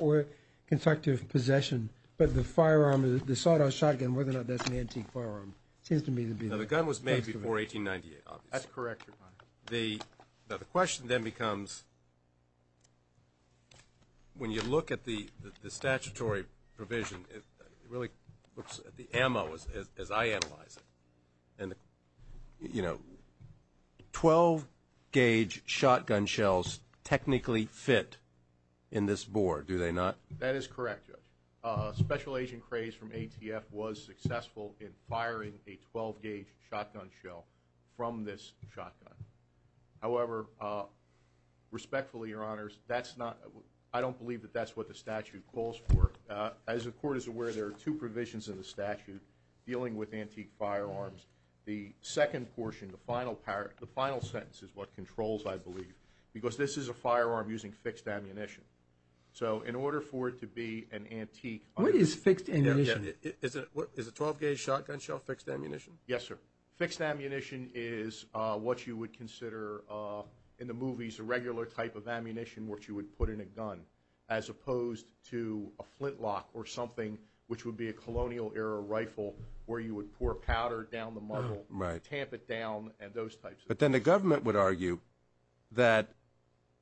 or constructive possession, but the firearm, the sawed-off shotgun, whether or not that's an antique firearm. It seems to me to be that. Now, the gun was made before 1898, obviously. That's correct, Your Honor. Now, the question then becomes, when you look at the statutory provision, it really looks at the ammo as I analyze it. And, you know, 12-gauge shotgun shells technically fit in this bore, do they not? That is correct, Judge. Special Agent Craze from ATF was successful in firing a 12-gauge shotgun shell from this shotgun. However, respectfully, Your Honors, I don't believe that that's what the statute calls for. As the Court is aware, there are two provisions in the statute dealing with antique firearms. The second portion, the final sentence, is what controls, I believe, because this is a firearm using fixed ammunition. So in order for it to be an antique… What is fixed ammunition? Is a 12-gauge shotgun shell fixed ammunition? Yes, sir. Fixed ammunition is what you would consider in the movies a regular type of ammunition, which you would put in a gun, as opposed to a flintlock or something, which would be a colonial-era rifle where you would pour powder down the muzzle, tamp it down, and those types of things. But then the government would argue that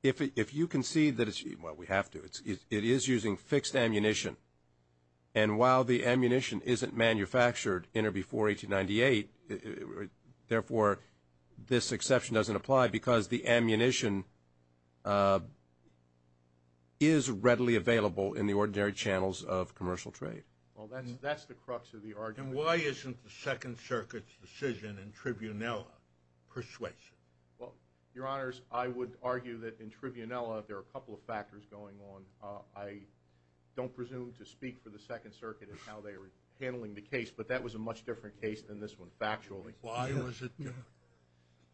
if you concede that it's… Well, we have to. It is using fixed ammunition. And while the ammunition isn't manufactured in or before 1898, therefore, this exception doesn't apply because the ammunition is readily available in the ordinary channels of commercial trade. Well, that's the crux of the argument. And why isn't the Second Circuit's decision in Tribunella persuasive? Well, Your Honors, I would argue that in Tribunella there are a couple of factors going on. I don't presume to speak for the Second Circuit in how they were handling the case, but that was a much different case than this one, factually. Why was it different?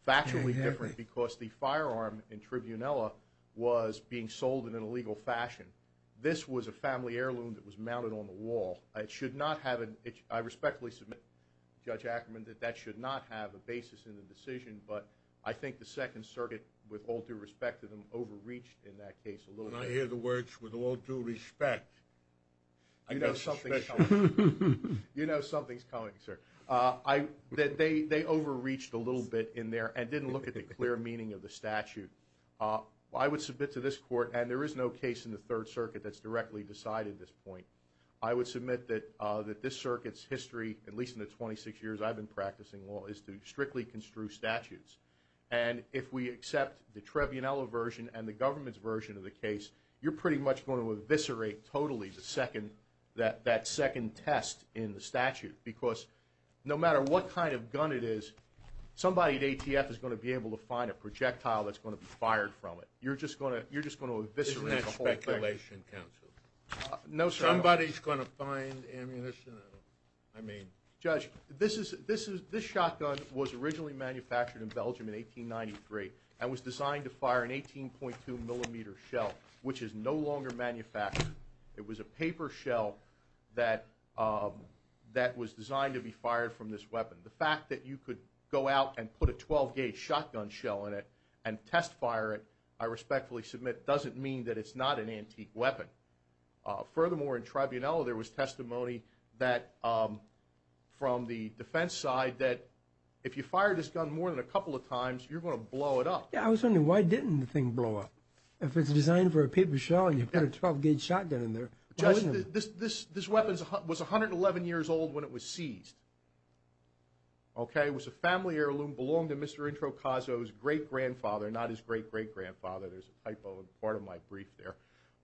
Factually different because the firearm in Tribunella was being sold in an illegal fashion. This was a family heirloom that was mounted on the wall. It should not have an… I respectfully submit, Judge Ackerman, that that should not have a basis in the decision, but I think the Second Circuit, with all due respect to them, overreached in that case a little bit. When I hear the words, with all due respect… You know something's coming. You know something's coming, sir. They overreached a little bit in there and didn't look at the clear meaning of the statute. I would submit to this Court, and there is no case in the Third Circuit that's directly decided this point, I would submit that this Circuit's history, at least in the 26 years I've been practicing law, is to strictly construe statutes. And if we accept the Tribunella version and the government's version of the case, you're pretty much going to eviscerate totally that second test in the statute because no matter what kind of gun it is, somebody at ATF is going to be able to find a projectile that's going to be fired from it. You're just going to eviscerate the whole thing. Isn't that speculation, counsel? No, sir. Somebody's going to find ammunition? I mean… Judge, this shotgun was originally manufactured in Belgium in 1893 and was designed to fire an 18.2-millimeter shell, which is no longer manufactured. It was a paper shell that was designed to be fired from this weapon. The fact that you could go out and put a 12-gauge shotgun shell in it and test fire it, I respectfully submit, doesn't mean that it's not an antique weapon. Furthermore, in Tribunella there was testimony from the defense side that if you fire this gun more than a couple of times, you're going to blow it up. Yeah, I was wondering, why didn't the thing blow up? If it's designed for a paper shell and you put a 12-gauge shotgun in there, why wouldn't it? Judge, this weapon was 111 years old when it was seized. It was a family heirloom, belonged to Mr. Introcaso's great-grandfather, not his great-great-grandfather. There's a typo in part of my brief there.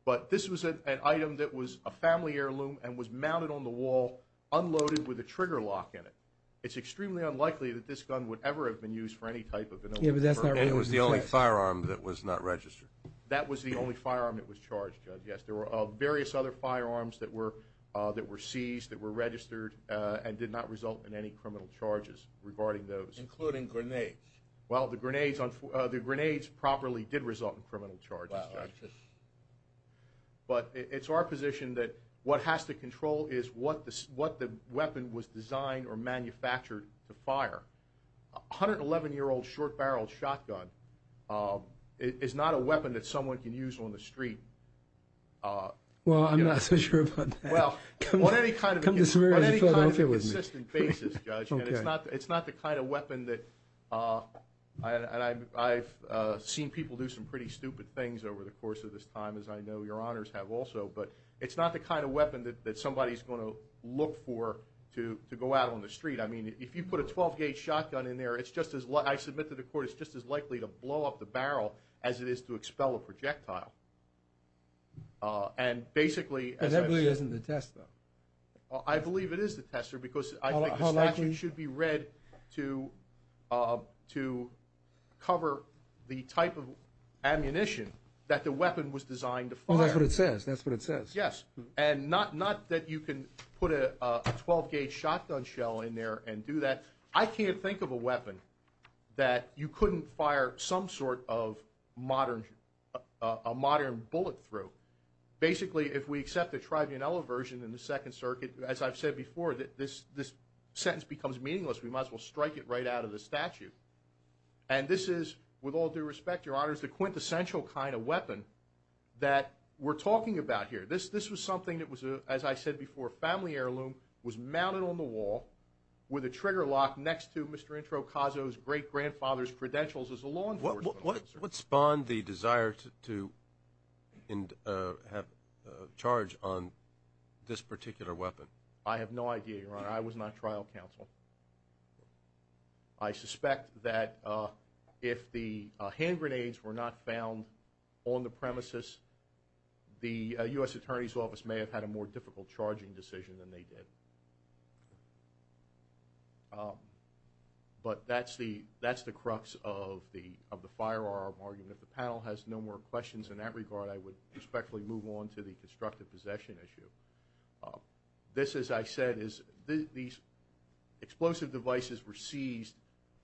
But this was an item that was a family heirloom and was mounted on the wall, unloaded with a trigger lock in it. It's extremely unlikely that this gun would ever have been used for any type of animal. Yeah, but that's not right. It was the only firearm that was not registered. That was the only firearm that was charged, Judge. Yes, there were various other firearms that were seized, that were registered, and did not result in any criminal charges regarding those. Including grenades. Well, the grenades properly did result in criminal charges, Judge. But it's our position that what has to control is what the weapon was designed or manufactured to fire. A 111-year-old short-barreled shotgun is not a weapon that someone can use on the street. Well, I'm not so sure about that. Well, on any kind of consistent basis, Judge, and it's not the kind of weapon that – and I've seen people do some pretty stupid things over the course of this time, as I know your honors have also, but it's not the kind of weapon that somebody's going to look for to go out on the street. I mean, if you put a 12-gauge shotgun in there, it's just as – I submit to the Court it's just as likely to blow up the barrel as it is to expel a projectile. And basically – But that really isn't the test, though. I believe it is the tester because I think the statute should be read to cover the type of ammunition that the weapon was designed to fire. Well, that's what it says. That's what it says. Yes. And not that you can put a 12-gauge shotgun shell in there and do that. I can't think of a weapon that you couldn't fire some sort of modern bullet through. Basically, if we accept the tribunella version in the Second Circuit, as I've said before, this sentence becomes meaningless. We might as well strike it right out of the statute. And this is, with all due respect, your honors, the quintessential kind of weapon that we're talking about here. This was something that was, as I said before, a family heirloom, was mounted on the wall with a trigger lock next to Mr. Introcaso's great-grandfather's credentials as a law enforcement officer. What spawned the desire to have a charge on this particular weapon? I have no idea, Your Honor. I was not trial counsel. I suspect that if the hand grenades were not found on the premises, the U.S. Attorney's Office may have had a more difficult charging decision than they did. But that's the crux of the firearm argument. If the panel has no more questions in that regard, I would respectfully move on to the constructive possession issue. This, as I said, is these explosive devices were seized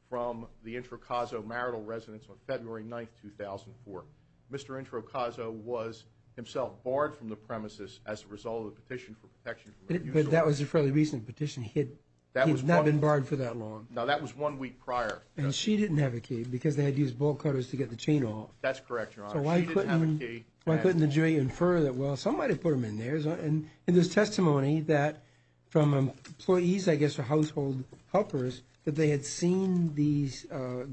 from the Introcaso marital residence on February 9, 2004. Mr. Introcaso was himself barred from the premises as a result of the petition for protection. But that was a fairly recent petition. He had not been barred for that long. No, that was one week prior. And she didn't have a key because they had to use bolt cutters to get the chain off. That's correct, Your Honor. She didn't have a key. So why couldn't the jury infer that, well, somebody put them in there? And there's testimony that from employees, I guess, or household helpers, that they had seen these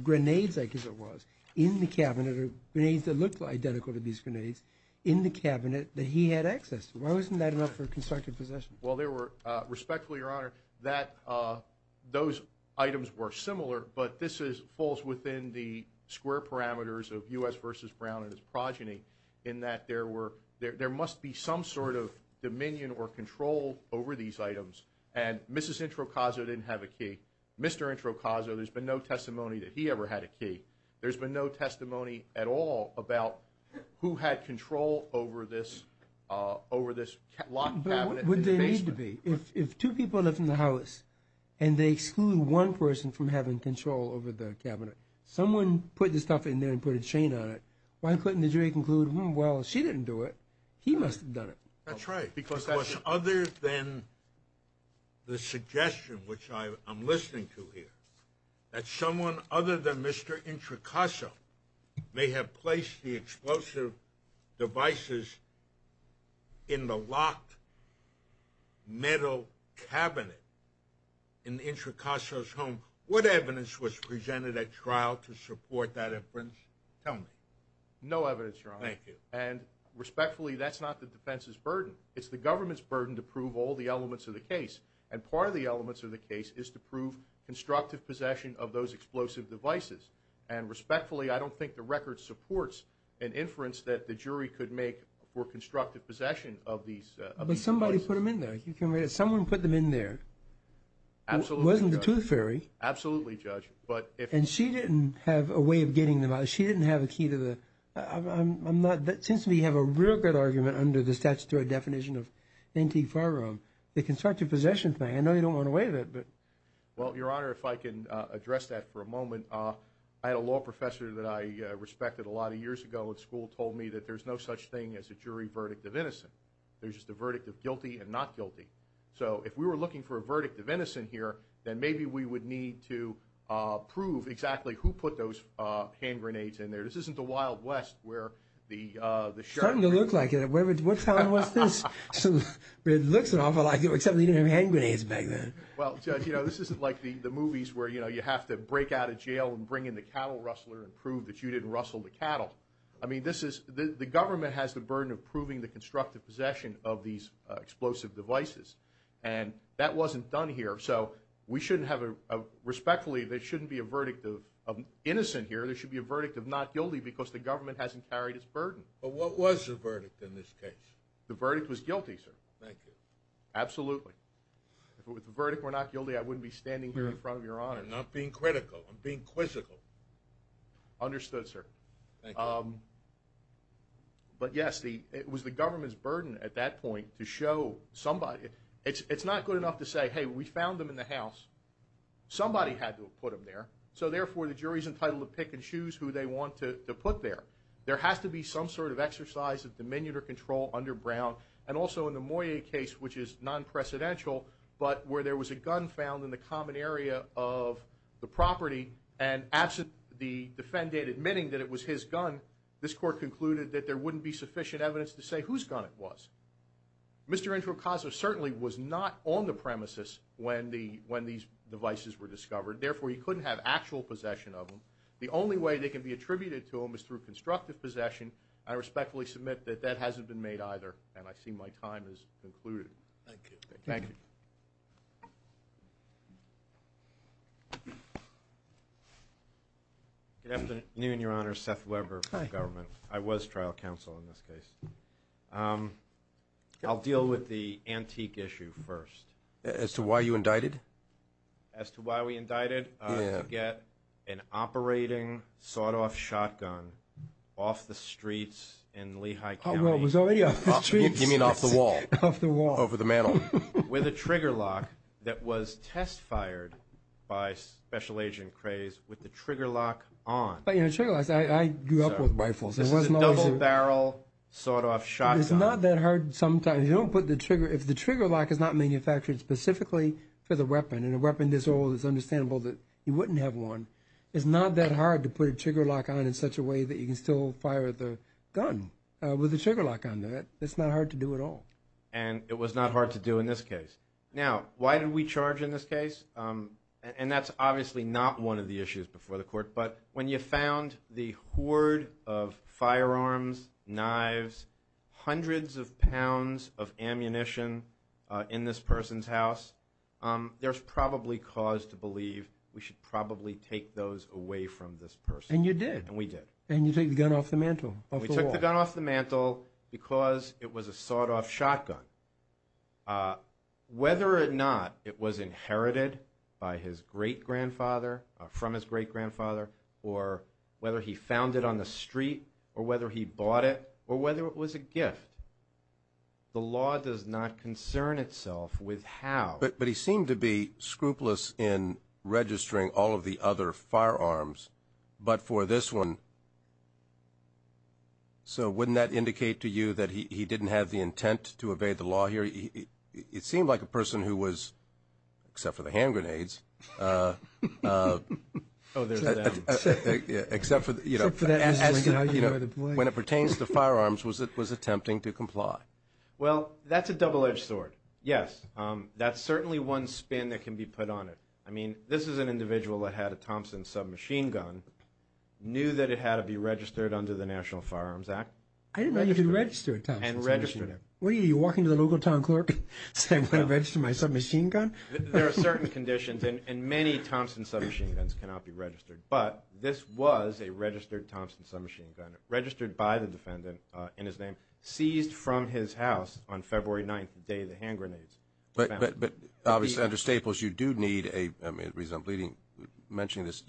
grenades, I guess it was, in the cabinet, or grenades that looked identical to these grenades, in the cabinet that he had access to. Why wasn't that enough for constructive possession? Well, respectfully, Your Honor, those items were similar, but this falls within the square parameters of U.S. v. Brown and his progeny, in that there must be some sort of dominion or control over these items. And Mrs. Introcaso didn't have a key. Mr. Introcaso, there's been no testimony that he ever had a key. There's been no testimony at all about who had control over this locked cabinet. But what would they need to be? If two people live in the house and they exclude one person from having control over the cabinet, someone put this stuff in there and put a chain on it, why couldn't the jury conclude, well, she didn't do it, he must have done it? That's right. Because other than the suggestion, which I'm listening to here, that someone other than Mr. Introcaso may have placed the explosive devices in the locked metal cabinet in Introcaso's home, what evidence was presented at trial to support that inference? Tell me. No evidence, Your Honor. Thank you. And respectfully, that's not the defense's burden. It's the government's burden to prove all the elements of the case. And part of the elements of the case is to prove constructive possession of those explosive devices. And respectfully, I don't think the record supports an inference that the jury could make for constructive possession of these devices. But somebody put them in there. Someone put them in there. Absolutely, Judge. It wasn't the tooth fairy. Absolutely, Judge. And she didn't have a way of getting them out. She didn't have a key to the – since we have a real good argument under the statutory definition of antique firearm, the constructive possession thing. I know you don't want to waive it. Well, Your Honor, if I can address that for a moment. I had a law professor that I respected a lot of years ago at school told me that there's no such thing as a jury verdict of innocence. There's just a verdict of guilty and not guilty. So if we were looking for a verdict of innocence here, then maybe we would need to prove exactly who put those hand grenades in there. This isn't the Wild West where the sheriff – It's starting to look like it. What time was this? It looks awful, except they didn't have hand grenades back then. Well, Judge, this isn't like the movies where you have to break out of jail and bring in the cattle rustler and prove that you didn't rustle the cattle. I mean, the government has the burden of proving the constructive possession of these explosive devices, and that wasn't done here. So we shouldn't have a – respectfully, there shouldn't be a verdict of innocent here. There should be a verdict of not guilty because the government hasn't carried its burden. But what was the verdict in this case? The verdict was guilty, sir. Thank you. Absolutely. If the verdict were not guilty, I wouldn't be standing here in front of Your Honor. I'm not being critical. I'm being quizzical. Understood, sir. Thank you. But, yes, it was the government's burden at that point to show somebody – it's not good enough to say, hey, we found them in the house. Somebody had to have put them there, so therefore the jury's entitled to pick and choose who they want to put there. There has to be some sort of exercise of dominion or control under Brown, and also in the Moyet case, which is non-precedential, but where there was a gun found in the common area of the property, and absent the defendant admitting that it was his gun, this court concluded that there wouldn't be sufficient evidence to say whose gun it was. Mr. Enchikasa certainly was not on the premises when these devices were discovered. Therefore, he couldn't have actual possession of them. The only way they can be attributed to him is through constructive possession. I respectfully submit that that hasn't been made either, and I see my time has concluded. Thank you. Thank you. Good afternoon, Your Honor. Seth Weber from government. I was trial counsel in this case. I'll deal with the antique issue first. As to why you indicted? As to why we indicted? Yeah. How did you get an operating sawed-off shotgun off the streets in Lehigh County? Well, it was already off the streets. You mean off the wall? Off the wall. Over the mantel? With a trigger lock that was test-fired by Special Agent Craze with the trigger lock on. But, you know, trigger locks, I grew up with rifles. This is a double-barrel sawed-off shotgun. It's not that hard sometimes. If the trigger lock is not manufactured specifically for the weapon, and a weapon this old is understandable that you wouldn't have one, it's not that hard to put a trigger lock on in such a way that you can still fire the gun with a trigger lock on that. It's not hard to do at all. And it was not hard to do in this case. Now, why did we charge in this case? And that's obviously not one of the issues before the court, but when you found the hoard of firearms, knives, hundreds of pounds of ammunition in this person's house, there's probably cause to believe we should probably take those away from this person. And you did. And we did. And you took the gun off the mantel, off the wall. We took the gun off the mantel because it was a sawed-off shotgun. Whether or not it was inherited by his great-grandfather, from his great-grandfather, or whether he found it on the street, or whether he bought it, or whether it was a gift, the law does not concern itself with how. But he seemed to be scrupulous in registering all of the other firearms, but for this one, so wouldn't that indicate to you that he didn't have the intent to evade the law here? It seemed like a person who was, except for the hand grenades, except for, you know, when it pertains to firearms, was attempting to comply. Well, that's a double-edged sword, yes. That's certainly one spin that can be put on it. I mean, this is an individual that had a Thompson submachine gun, knew that it had to be registered under the National Firearms Act. I didn't know you could register a Thompson submachine gun. And registered it. What are you, are you walking to the local town clerk saying, I'm going to register my submachine gun? There are certain conditions, and many Thompson submachine guns cannot be registered, but this was a registered Thompson submachine gun, registered by the defendant in his name, seized from his house on February 9th, the day the hand grenades were found. But obviously under Staples, you do need a, I mean, the reason I'm mentioning this,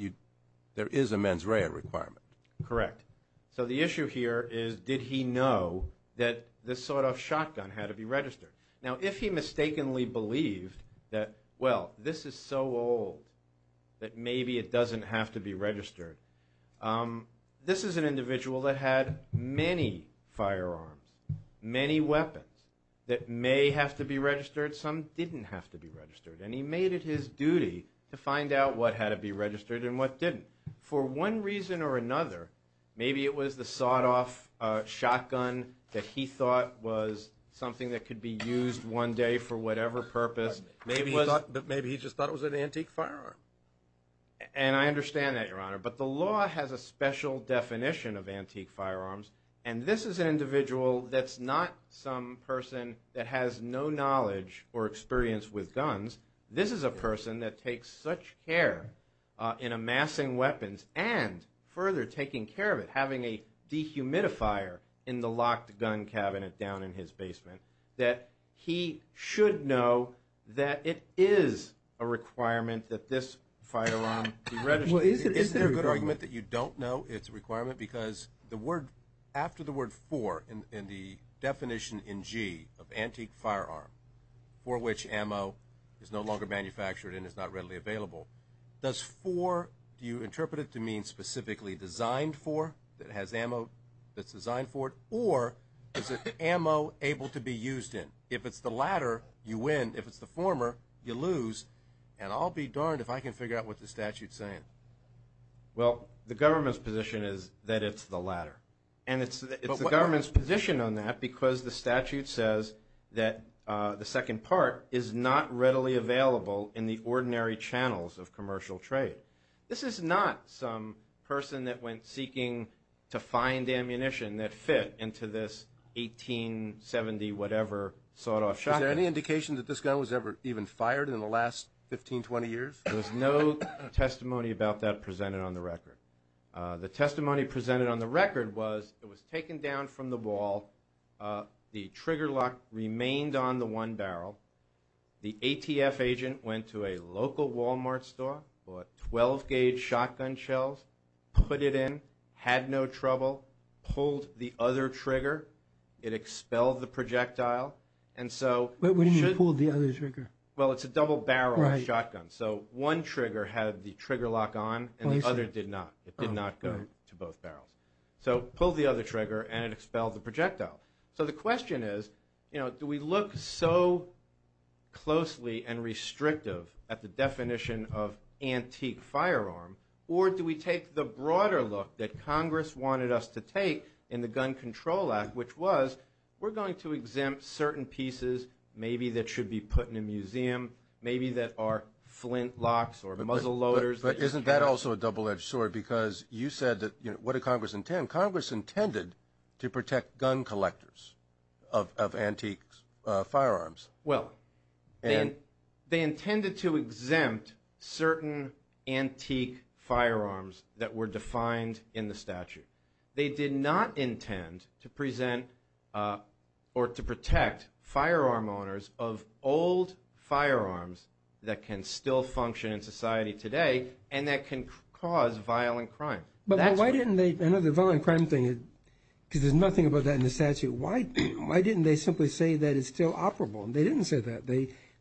there is a mens rea requirement. Correct. So the issue here is, did he know that this sort of shotgun had to be registered? Now, if he mistakenly believed that, well, this is so old that maybe it doesn't have to be registered. This is an individual that had many firearms, many weapons, that may have to be registered. Some didn't have to be registered. And he made it his duty to find out what had to be registered and what didn't. For one reason or another, maybe it was the sawed-off shotgun that he thought was something that could be used one day for whatever purpose. Maybe he just thought it was an antique firearm. And I understand that, Your Honor. But the law has a special definition of antique firearms, and this is an individual that's not some person that has no knowledge or experience with guns. This is a person that takes such care in amassing weapons and further taking care of it, having a dehumidifier in the locked gun cabinet down in his basement, that he should know that it is a requirement that this firearm be registered. Well, is there a good argument that you don't know it's a requirement? Because after the word for in the definition in G of antique firearm, for which ammo is no longer manufactured and is not readily available, does for, do you interpret it to mean specifically designed for, that has ammo that's designed for it? Or is it ammo able to be used in? If it's the latter, you win. If it's the former, you lose. And I'll be darned if I can figure out what the statute's saying. Well, the government's position is that it's the latter. And it's the government's position on that because the statute says that the second part is not readily available in the ordinary channels of commercial trade. This is not some person that went seeking to find ammunition that fit into this 1870-whatever sawed-off shotgun. Is there any indication that this gun was ever even fired in the last 15, 20 years? There's no testimony about that presented on the record. The testimony presented on the record was it was taken down from the wall. The trigger lock remained on the one barrel. The ATF agent went to a local Wal-Mart store, bought 12-gauge shotgun shells, put it in, had no trouble, pulled the other trigger, it expelled the projectile, and so- Wait, what do you mean pulled the other trigger? Well, it's a double-barrel shotgun. So one trigger had the trigger lock on and the other did not. It did not go to both barrels. So pulled the other trigger and it expelled the projectile. So the question is, you know, do we look so closely and restrictive at the definition of antique firearm, or do we take the broader look that Congress wanted us to take in the Gun Control Act, which was we're going to exempt certain pieces maybe that should be put in a museum, maybe that are flint locks or muzzle loaders- But isn't that also a double-edged sword? Because you said that, you know, what did Congress intend? Congress intended to protect gun collectors of antique firearms. Well, they intended to exempt certain antique firearms that were defined in the statute. They did not intend to present or to protect firearm owners of old firearms that can still function in society today and that can cause violent crime. But why didn't they- I know the violent crime thing, because there's nothing about that in the statute. Why didn't they simply say that it's still operable? They didn't say that.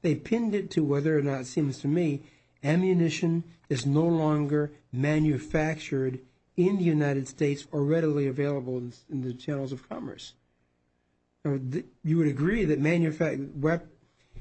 They pinned it to whether or not, it seems to me, ammunition is no longer manufactured in the United States or readily available in the channels of commerce. You would agree that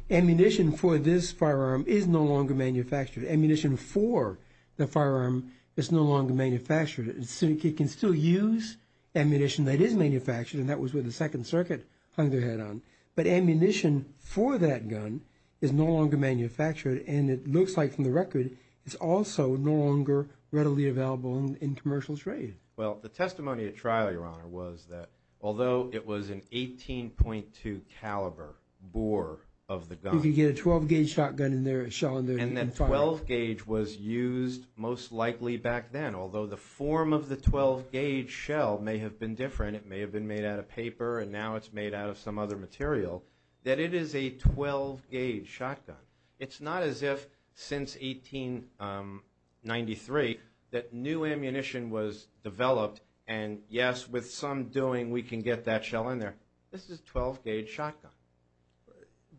ammunition for this firearm is no longer manufactured. Ammunition for the firearm is no longer manufactured. It can still use ammunition that is manufactured, and that was what the Second Circuit hung their head on. But ammunition for that gun is no longer manufactured, and it looks like from the record it's also no longer readily available in commercial trade. Well, the testimony at trial, Your Honor, was that although it was an 18.2 caliber bore of the gun- the 12-gauge was used most likely back then, although the form of the 12-gauge shell may have been different. It may have been made out of paper, and now it's made out of some other material- that it is a 12-gauge shotgun. It's not as if since 1893 that new ammunition was developed and, yes, with some doing we can get that shell in there. This is a 12-gauge shotgun.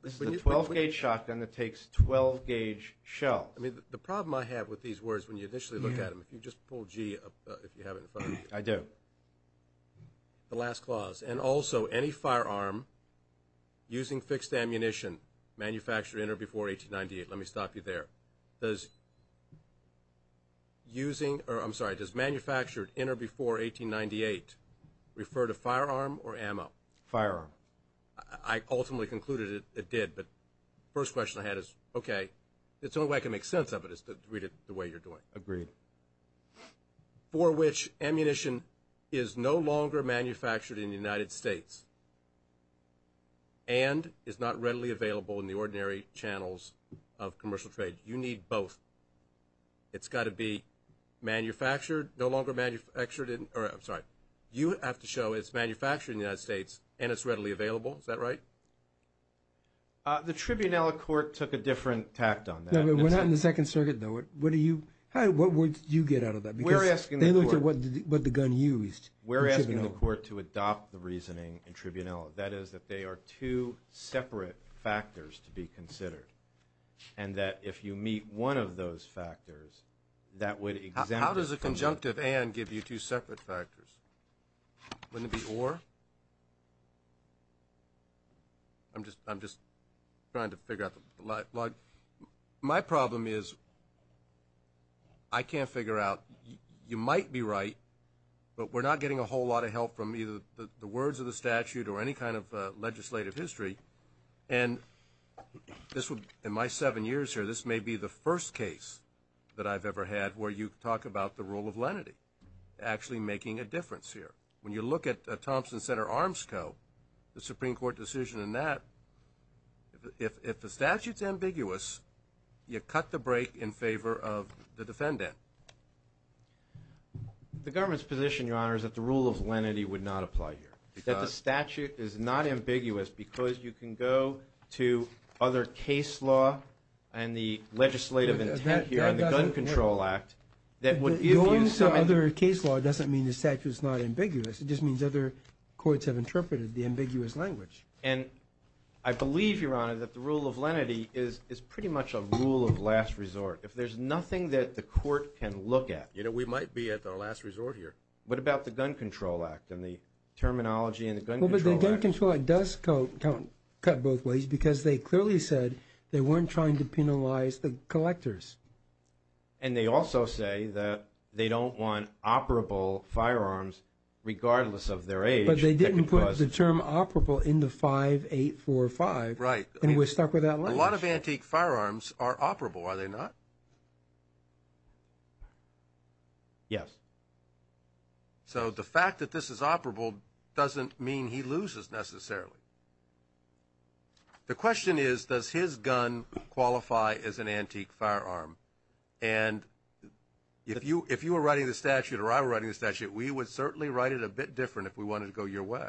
This is a 12-gauge shotgun that takes 12-gauge shells. I mean, the problem I have with these words when you initially look at them- if you just pull G up, if you have it in front of you. I do. The last clause, and also any firearm using fixed ammunition manufactured in or before 1898. Let me stop you there. Does using-or, I'm sorry, does manufactured in or before 1898 refer to firearm or ammo? Firearm. I ultimately concluded it did, but the first question I had is, okay. The only way I can make sense of it is to read it the way you're doing. Agreed. For which ammunition is no longer manufactured in the United States and is not readily available in the ordinary channels of commercial trade. You need both. It's got to be manufactured-no longer manufactured in-or, I'm sorry. You have to show it's manufactured in the United States and it's readily available. Is that right? The tribunella court took a different tact on that. No, but what happened in the Second Circuit, though? What do you-what words did you get out of that? Because they looked at what the gun used. We're asking the court to adopt the reasoning in tribunella. That is that they are two separate factors to be considered and that if you meet one of those factors, that would exempt it from- Wouldn't it be or? I'm just trying to figure out the-my problem is I can't figure out-you might be right, but we're not getting a whole lot of help from either the words of the statute or any kind of legislative history, and this would-in my seven years here, this may be the first case that I've ever had where you talk about the rule of lenity actually making a difference here. When you look at Thompson Center Arms Co., the Supreme Court decision in that, if the statute's ambiguous, you cut the break in favor of the defendant. The government's position, Your Honor, is that the rule of lenity would not apply here, that the statute is not ambiguous because you can go to other case law and the legislative intent here on the Gun Control Act that would- Going to other case law doesn't mean the statute's not ambiguous. It just means other courts have interpreted the ambiguous language. And I believe, Your Honor, that the rule of lenity is pretty much a rule of last resort. If there's nothing that the court can look at- You know, we might be at our last resort here. What about the Gun Control Act and the terminology in the Gun Control Act? The Gun Control Act does cut both ways because they clearly said they weren't trying to penalize the collectors. And they also say that they don't want operable firearms regardless of their age. But they didn't put the term operable in the 5845. Right. And we're stuck with that language. A lot of antique firearms are operable, are they not? Yes. So the fact that this is operable doesn't mean he loses necessarily. The question is, does his gun qualify as an antique firearm? And if you were writing the statute or I were writing the statute, we would certainly write it a bit different if we wanted to go your way.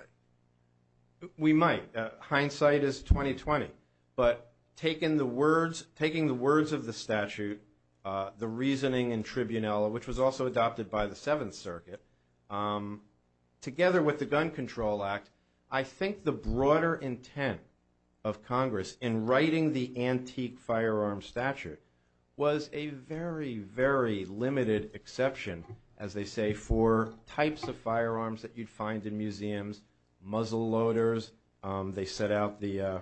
We might. Hindsight is 20-20. But taking the words of the statute, the reasoning in tribunella, which was also adopted by the Seventh Circuit, together with the Gun Control Act, I think the broader intent of Congress in writing the antique firearm statute was a very, very limited exception, as they say, for types of firearms that you'd find in museums, muzzle loaders. They set out the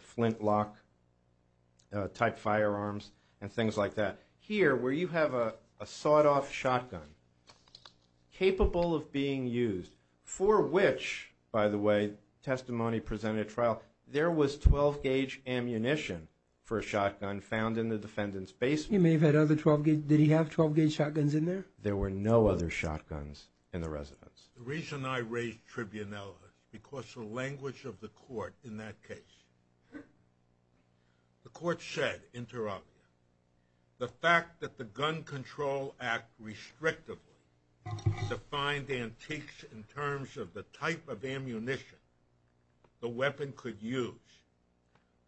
flintlock-type firearms and things like that. Here, where you have a sawed-off shotgun capable of being used, for which, by the way, testimony presented at trial, there was 12-gauge ammunition for a shotgun found in the defendant's basement. He may have had other 12-gauge. Did he have 12-gauge shotguns in there? There were no other shotguns in the residence. The reason I raised tribunella is because the language of the court in that case. The court said, inter alia, the fact that the Gun Control Act restrictively defined antiques in terms of the type of ammunition the weapon could use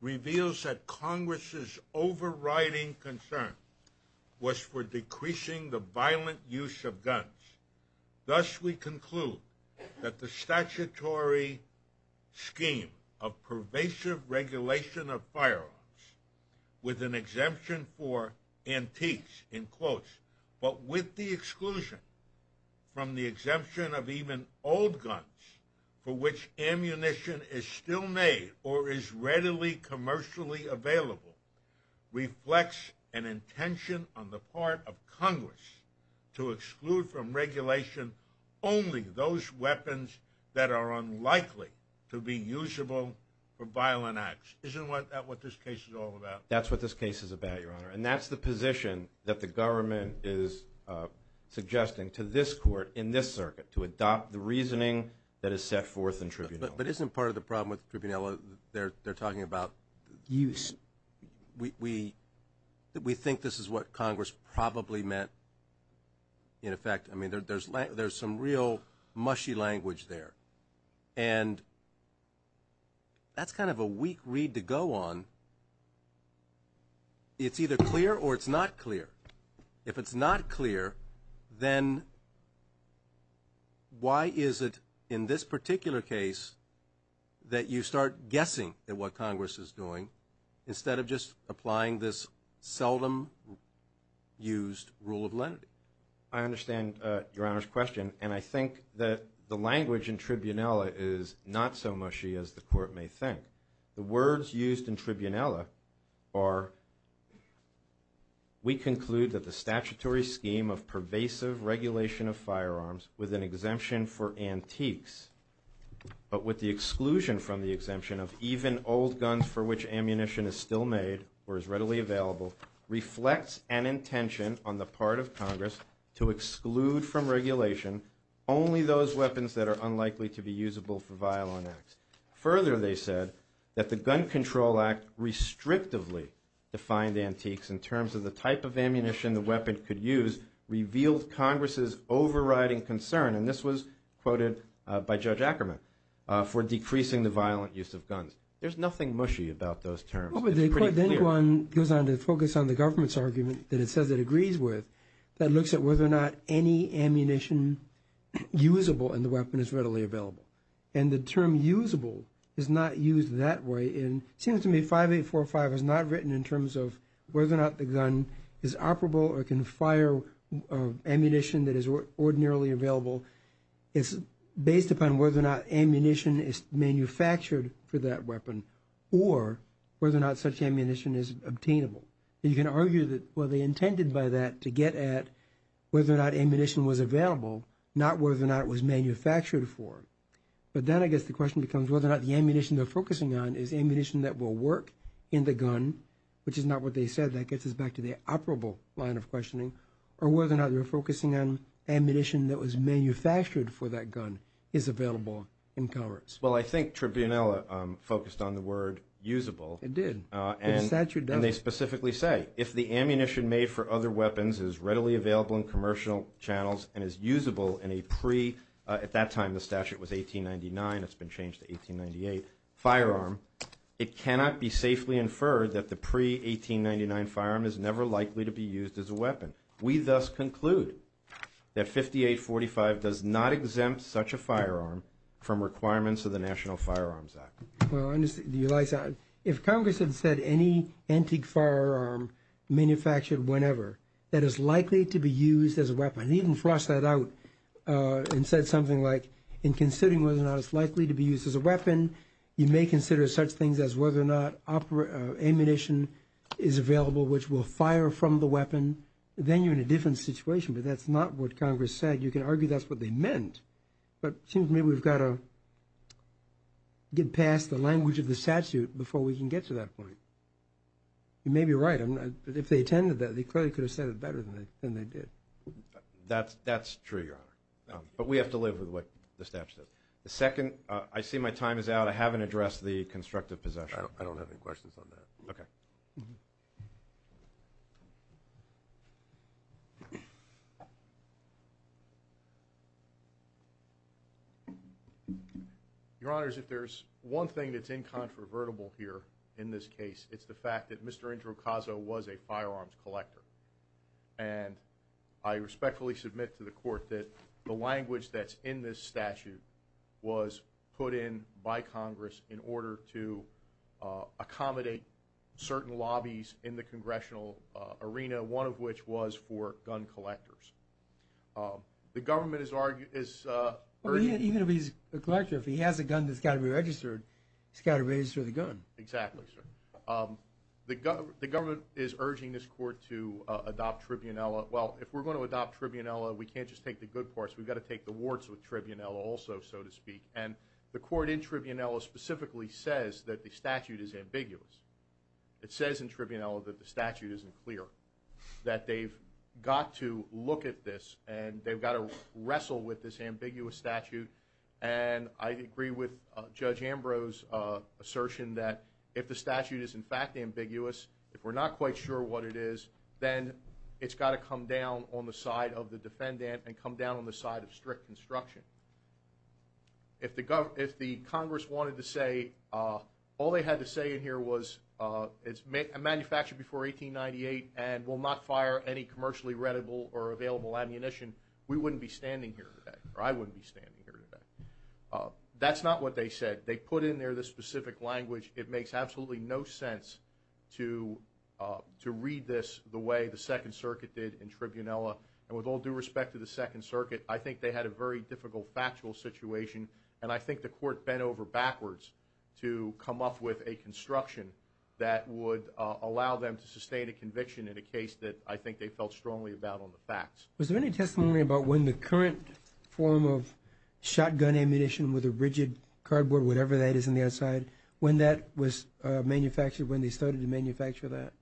reveals that Congress's overriding concern was for decreasing the violent use of guns. Thus, we conclude that the statutory scheme of pervasive regulation of firearms with an exemption for antiques, in quotes, but with the exclusion from the exemption of even old guns for which ammunition is still made or is readily commercially available reflects an intention on the part of Congress to exclude from regulation only those weapons that are unlikely to be usable for violent acts. Isn't that what this case is all about? That's what this case is about, Your Honor. And that's the position that the government is suggesting to this court in this circuit, to adopt the reasoning that is set forth in tribunella. But isn't part of the problem with tribunella, they're talking about... Use. We think this is what Congress probably meant, in effect. I mean, there's some real mushy language there. And that's kind of a weak read to go on. It's either clear or it's not clear. If it's not clear, then why is it in this particular case that you start guessing at what Congress is doing instead of just applying this seldom used rule of lenity? I understand Your Honor's question, and I think that the language in tribunella is not so mushy as the court may think. The words used in tribunella are, we conclude that the statutory scheme of pervasive regulation of firearms with an exemption for antiques, but with the exclusion from the exemption of even old guns for which ammunition is still made or is readily available, reflects an intention on the part of Congress to exclude from regulation only those weapons that are unlikely to be usable for violent acts. Further, they said that the Gun Control Act restrictively defined antiques in terms of the type of ammunition the weapon could use, and revealed Congress's overriding concern, and this was quoted by Judge Ackerman, for decreasing the violent use of guns. There's nothing mushy about those terms. It's pretty clear. But then one goes on to focus on the government's argument that it says it agrees with that looks at whether or not any ammunition usable in the weapon is readily available. And the term usable is not used that way, and it seems to me 5845 is not written in terms of whether or not the gun is operable or can fire ammunition that is ordinarily available. It's based upon whether or not ammunition is manufactured for that weapon, or whether or not such ammunition is obtainable. And you can argue that, well, they intended by that to get at whether or not ammunition was available, not whether or not it was manufactured for. But then I guess the question becomes whether or not the ammunition they're focusing on is ammunition that will work in the gun, which is not what they said. That gets us back to the operable line of questioning, or whether or not they're focusing on ammunition that was manufactured for that gun is available in commerce. Well, I think Tribunella focused on the word usable. It did. And they specifically say, if the ammunition made for other weapons is readily available in commercial channels and is usable in a pre- at that time the statute was 1899. It's been changed to 1898-firearm, it cannot be safely inferred that the pre-1899 firearm is never likely to be used as a weapon. We thus conclude that 5845 does not exempt such a firearm from requirements of the National Firearms Act. Well, I understand. If Congress had said any antique firearm manufactured whenever that is likely to be used as a weapon, they didn't flush that out and said something like, in considering whether or not it's likely to be used as a weapon, you may consider such things as whether or not ammunition is available which will fire from the weapon. Then you're in a different situation. But that's not what Congress said. You can argue that's what they meant. But it seems to me we've got to get past the language of the statute before we can get to that point. You may be right. If they attended that, they clearly could have said it better than they did. That's true, Your Honor. But we have to live with what the statute says. The second, I see my time is out. I haven't addressed the constructive possession. I don't have any questions on that. Okay. Your Honors, if there's one thing that's incontrovertible here in this case, it's the fact that Mr. Indra Ocasio was a firearms collector. And I respectfully submit to the Court that the language that's in this statute was put in by Congress in order to accommodate certain lobbies in the congressional arena, one of which was for gun collectors. The government is urging – Even if he's a collector, if he has a gun that's got to be registered, he's got to register the gun. Exactly, sir. The government is urging this Court to adopt Tribunella. Well, if we're going to adopt Tribunella, we can't just take the good parts. We've got to take the warts with Tribunella also, so to speak. And the Court in Tribunella specifically says that the statute is ambiguous. It says in Tribunella that the statute isn't clear, that they've got to look at this and they've got to wrestle with this ambiguous statute. And I agree with Judge Ambrose's assertion that if the statute is in fact ambiguous, if we're not quite sure what it is, then it's got to come down on the side of the defendant and come down on the side of strict construction. If the Congress wanted to say all they had to say in here was it's manufactured before 1898 and will not fire any commercially-readable or available ammunition, we wouldn't be standing here today, or I wouldn't be standing here today. That's not what they said. They put in there this specific language. It makes absolutely no sense to read this the way the Second Circuit did in Tribunella. And with all due respect to the Second Circuit, I think they had a very difficult factual situation, and I think the Court bent over backwards to come up with a construction that would allow them to sustain a conviction in a case that I think they felt strongly about on the facts. Was there any testimony about when the current form of shotgun ammunition with a rigid cardboard, whatever that is on the outside, when that was manufactured, when they started to manufacture that?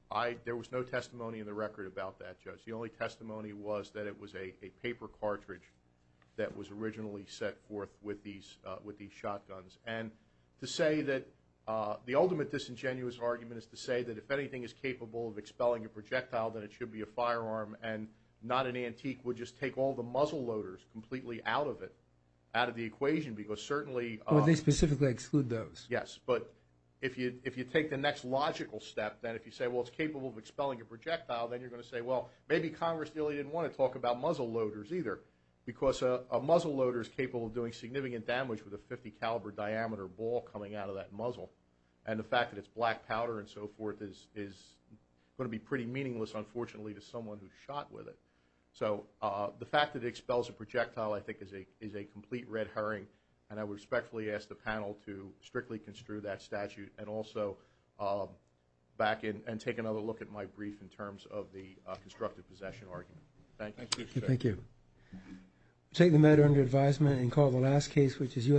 There was no testimony in the record about that, Judge. The only testimony was that it was a paper cartridge that was originally set forth with these shotguns. And to say that the ultimate disingenuous argument is to say that if anything is capable of expelling a projectile, then it should be a firearm and not an antique would just take all the muzzle loaders completely out of it, out of the equation, because certainly... Would they specifically exclude those? Yes, but if you take the next logical step, then if you say, well, it's capable of expelling a projectile, then you're going to say, well, maybe Congress really didn't want to talk about muzzle loaders either, because a muzzle loader is capable of doing significant damage with a .50 caliber diameter ball coming out of that muzzle, and the fact that it's black powder and so forth is going to be pretty meaningless, unfortunately, to someone who shot with it. So the fact that it expels a projectile I think is a complete red herring, and I respectfully ask the panel to strictly construe that statute and also back in and take another look at my brief in terms of the constructive possession argument. Thank you. Thank you. We'll take the matter under advisement and call the last case, which is U.S.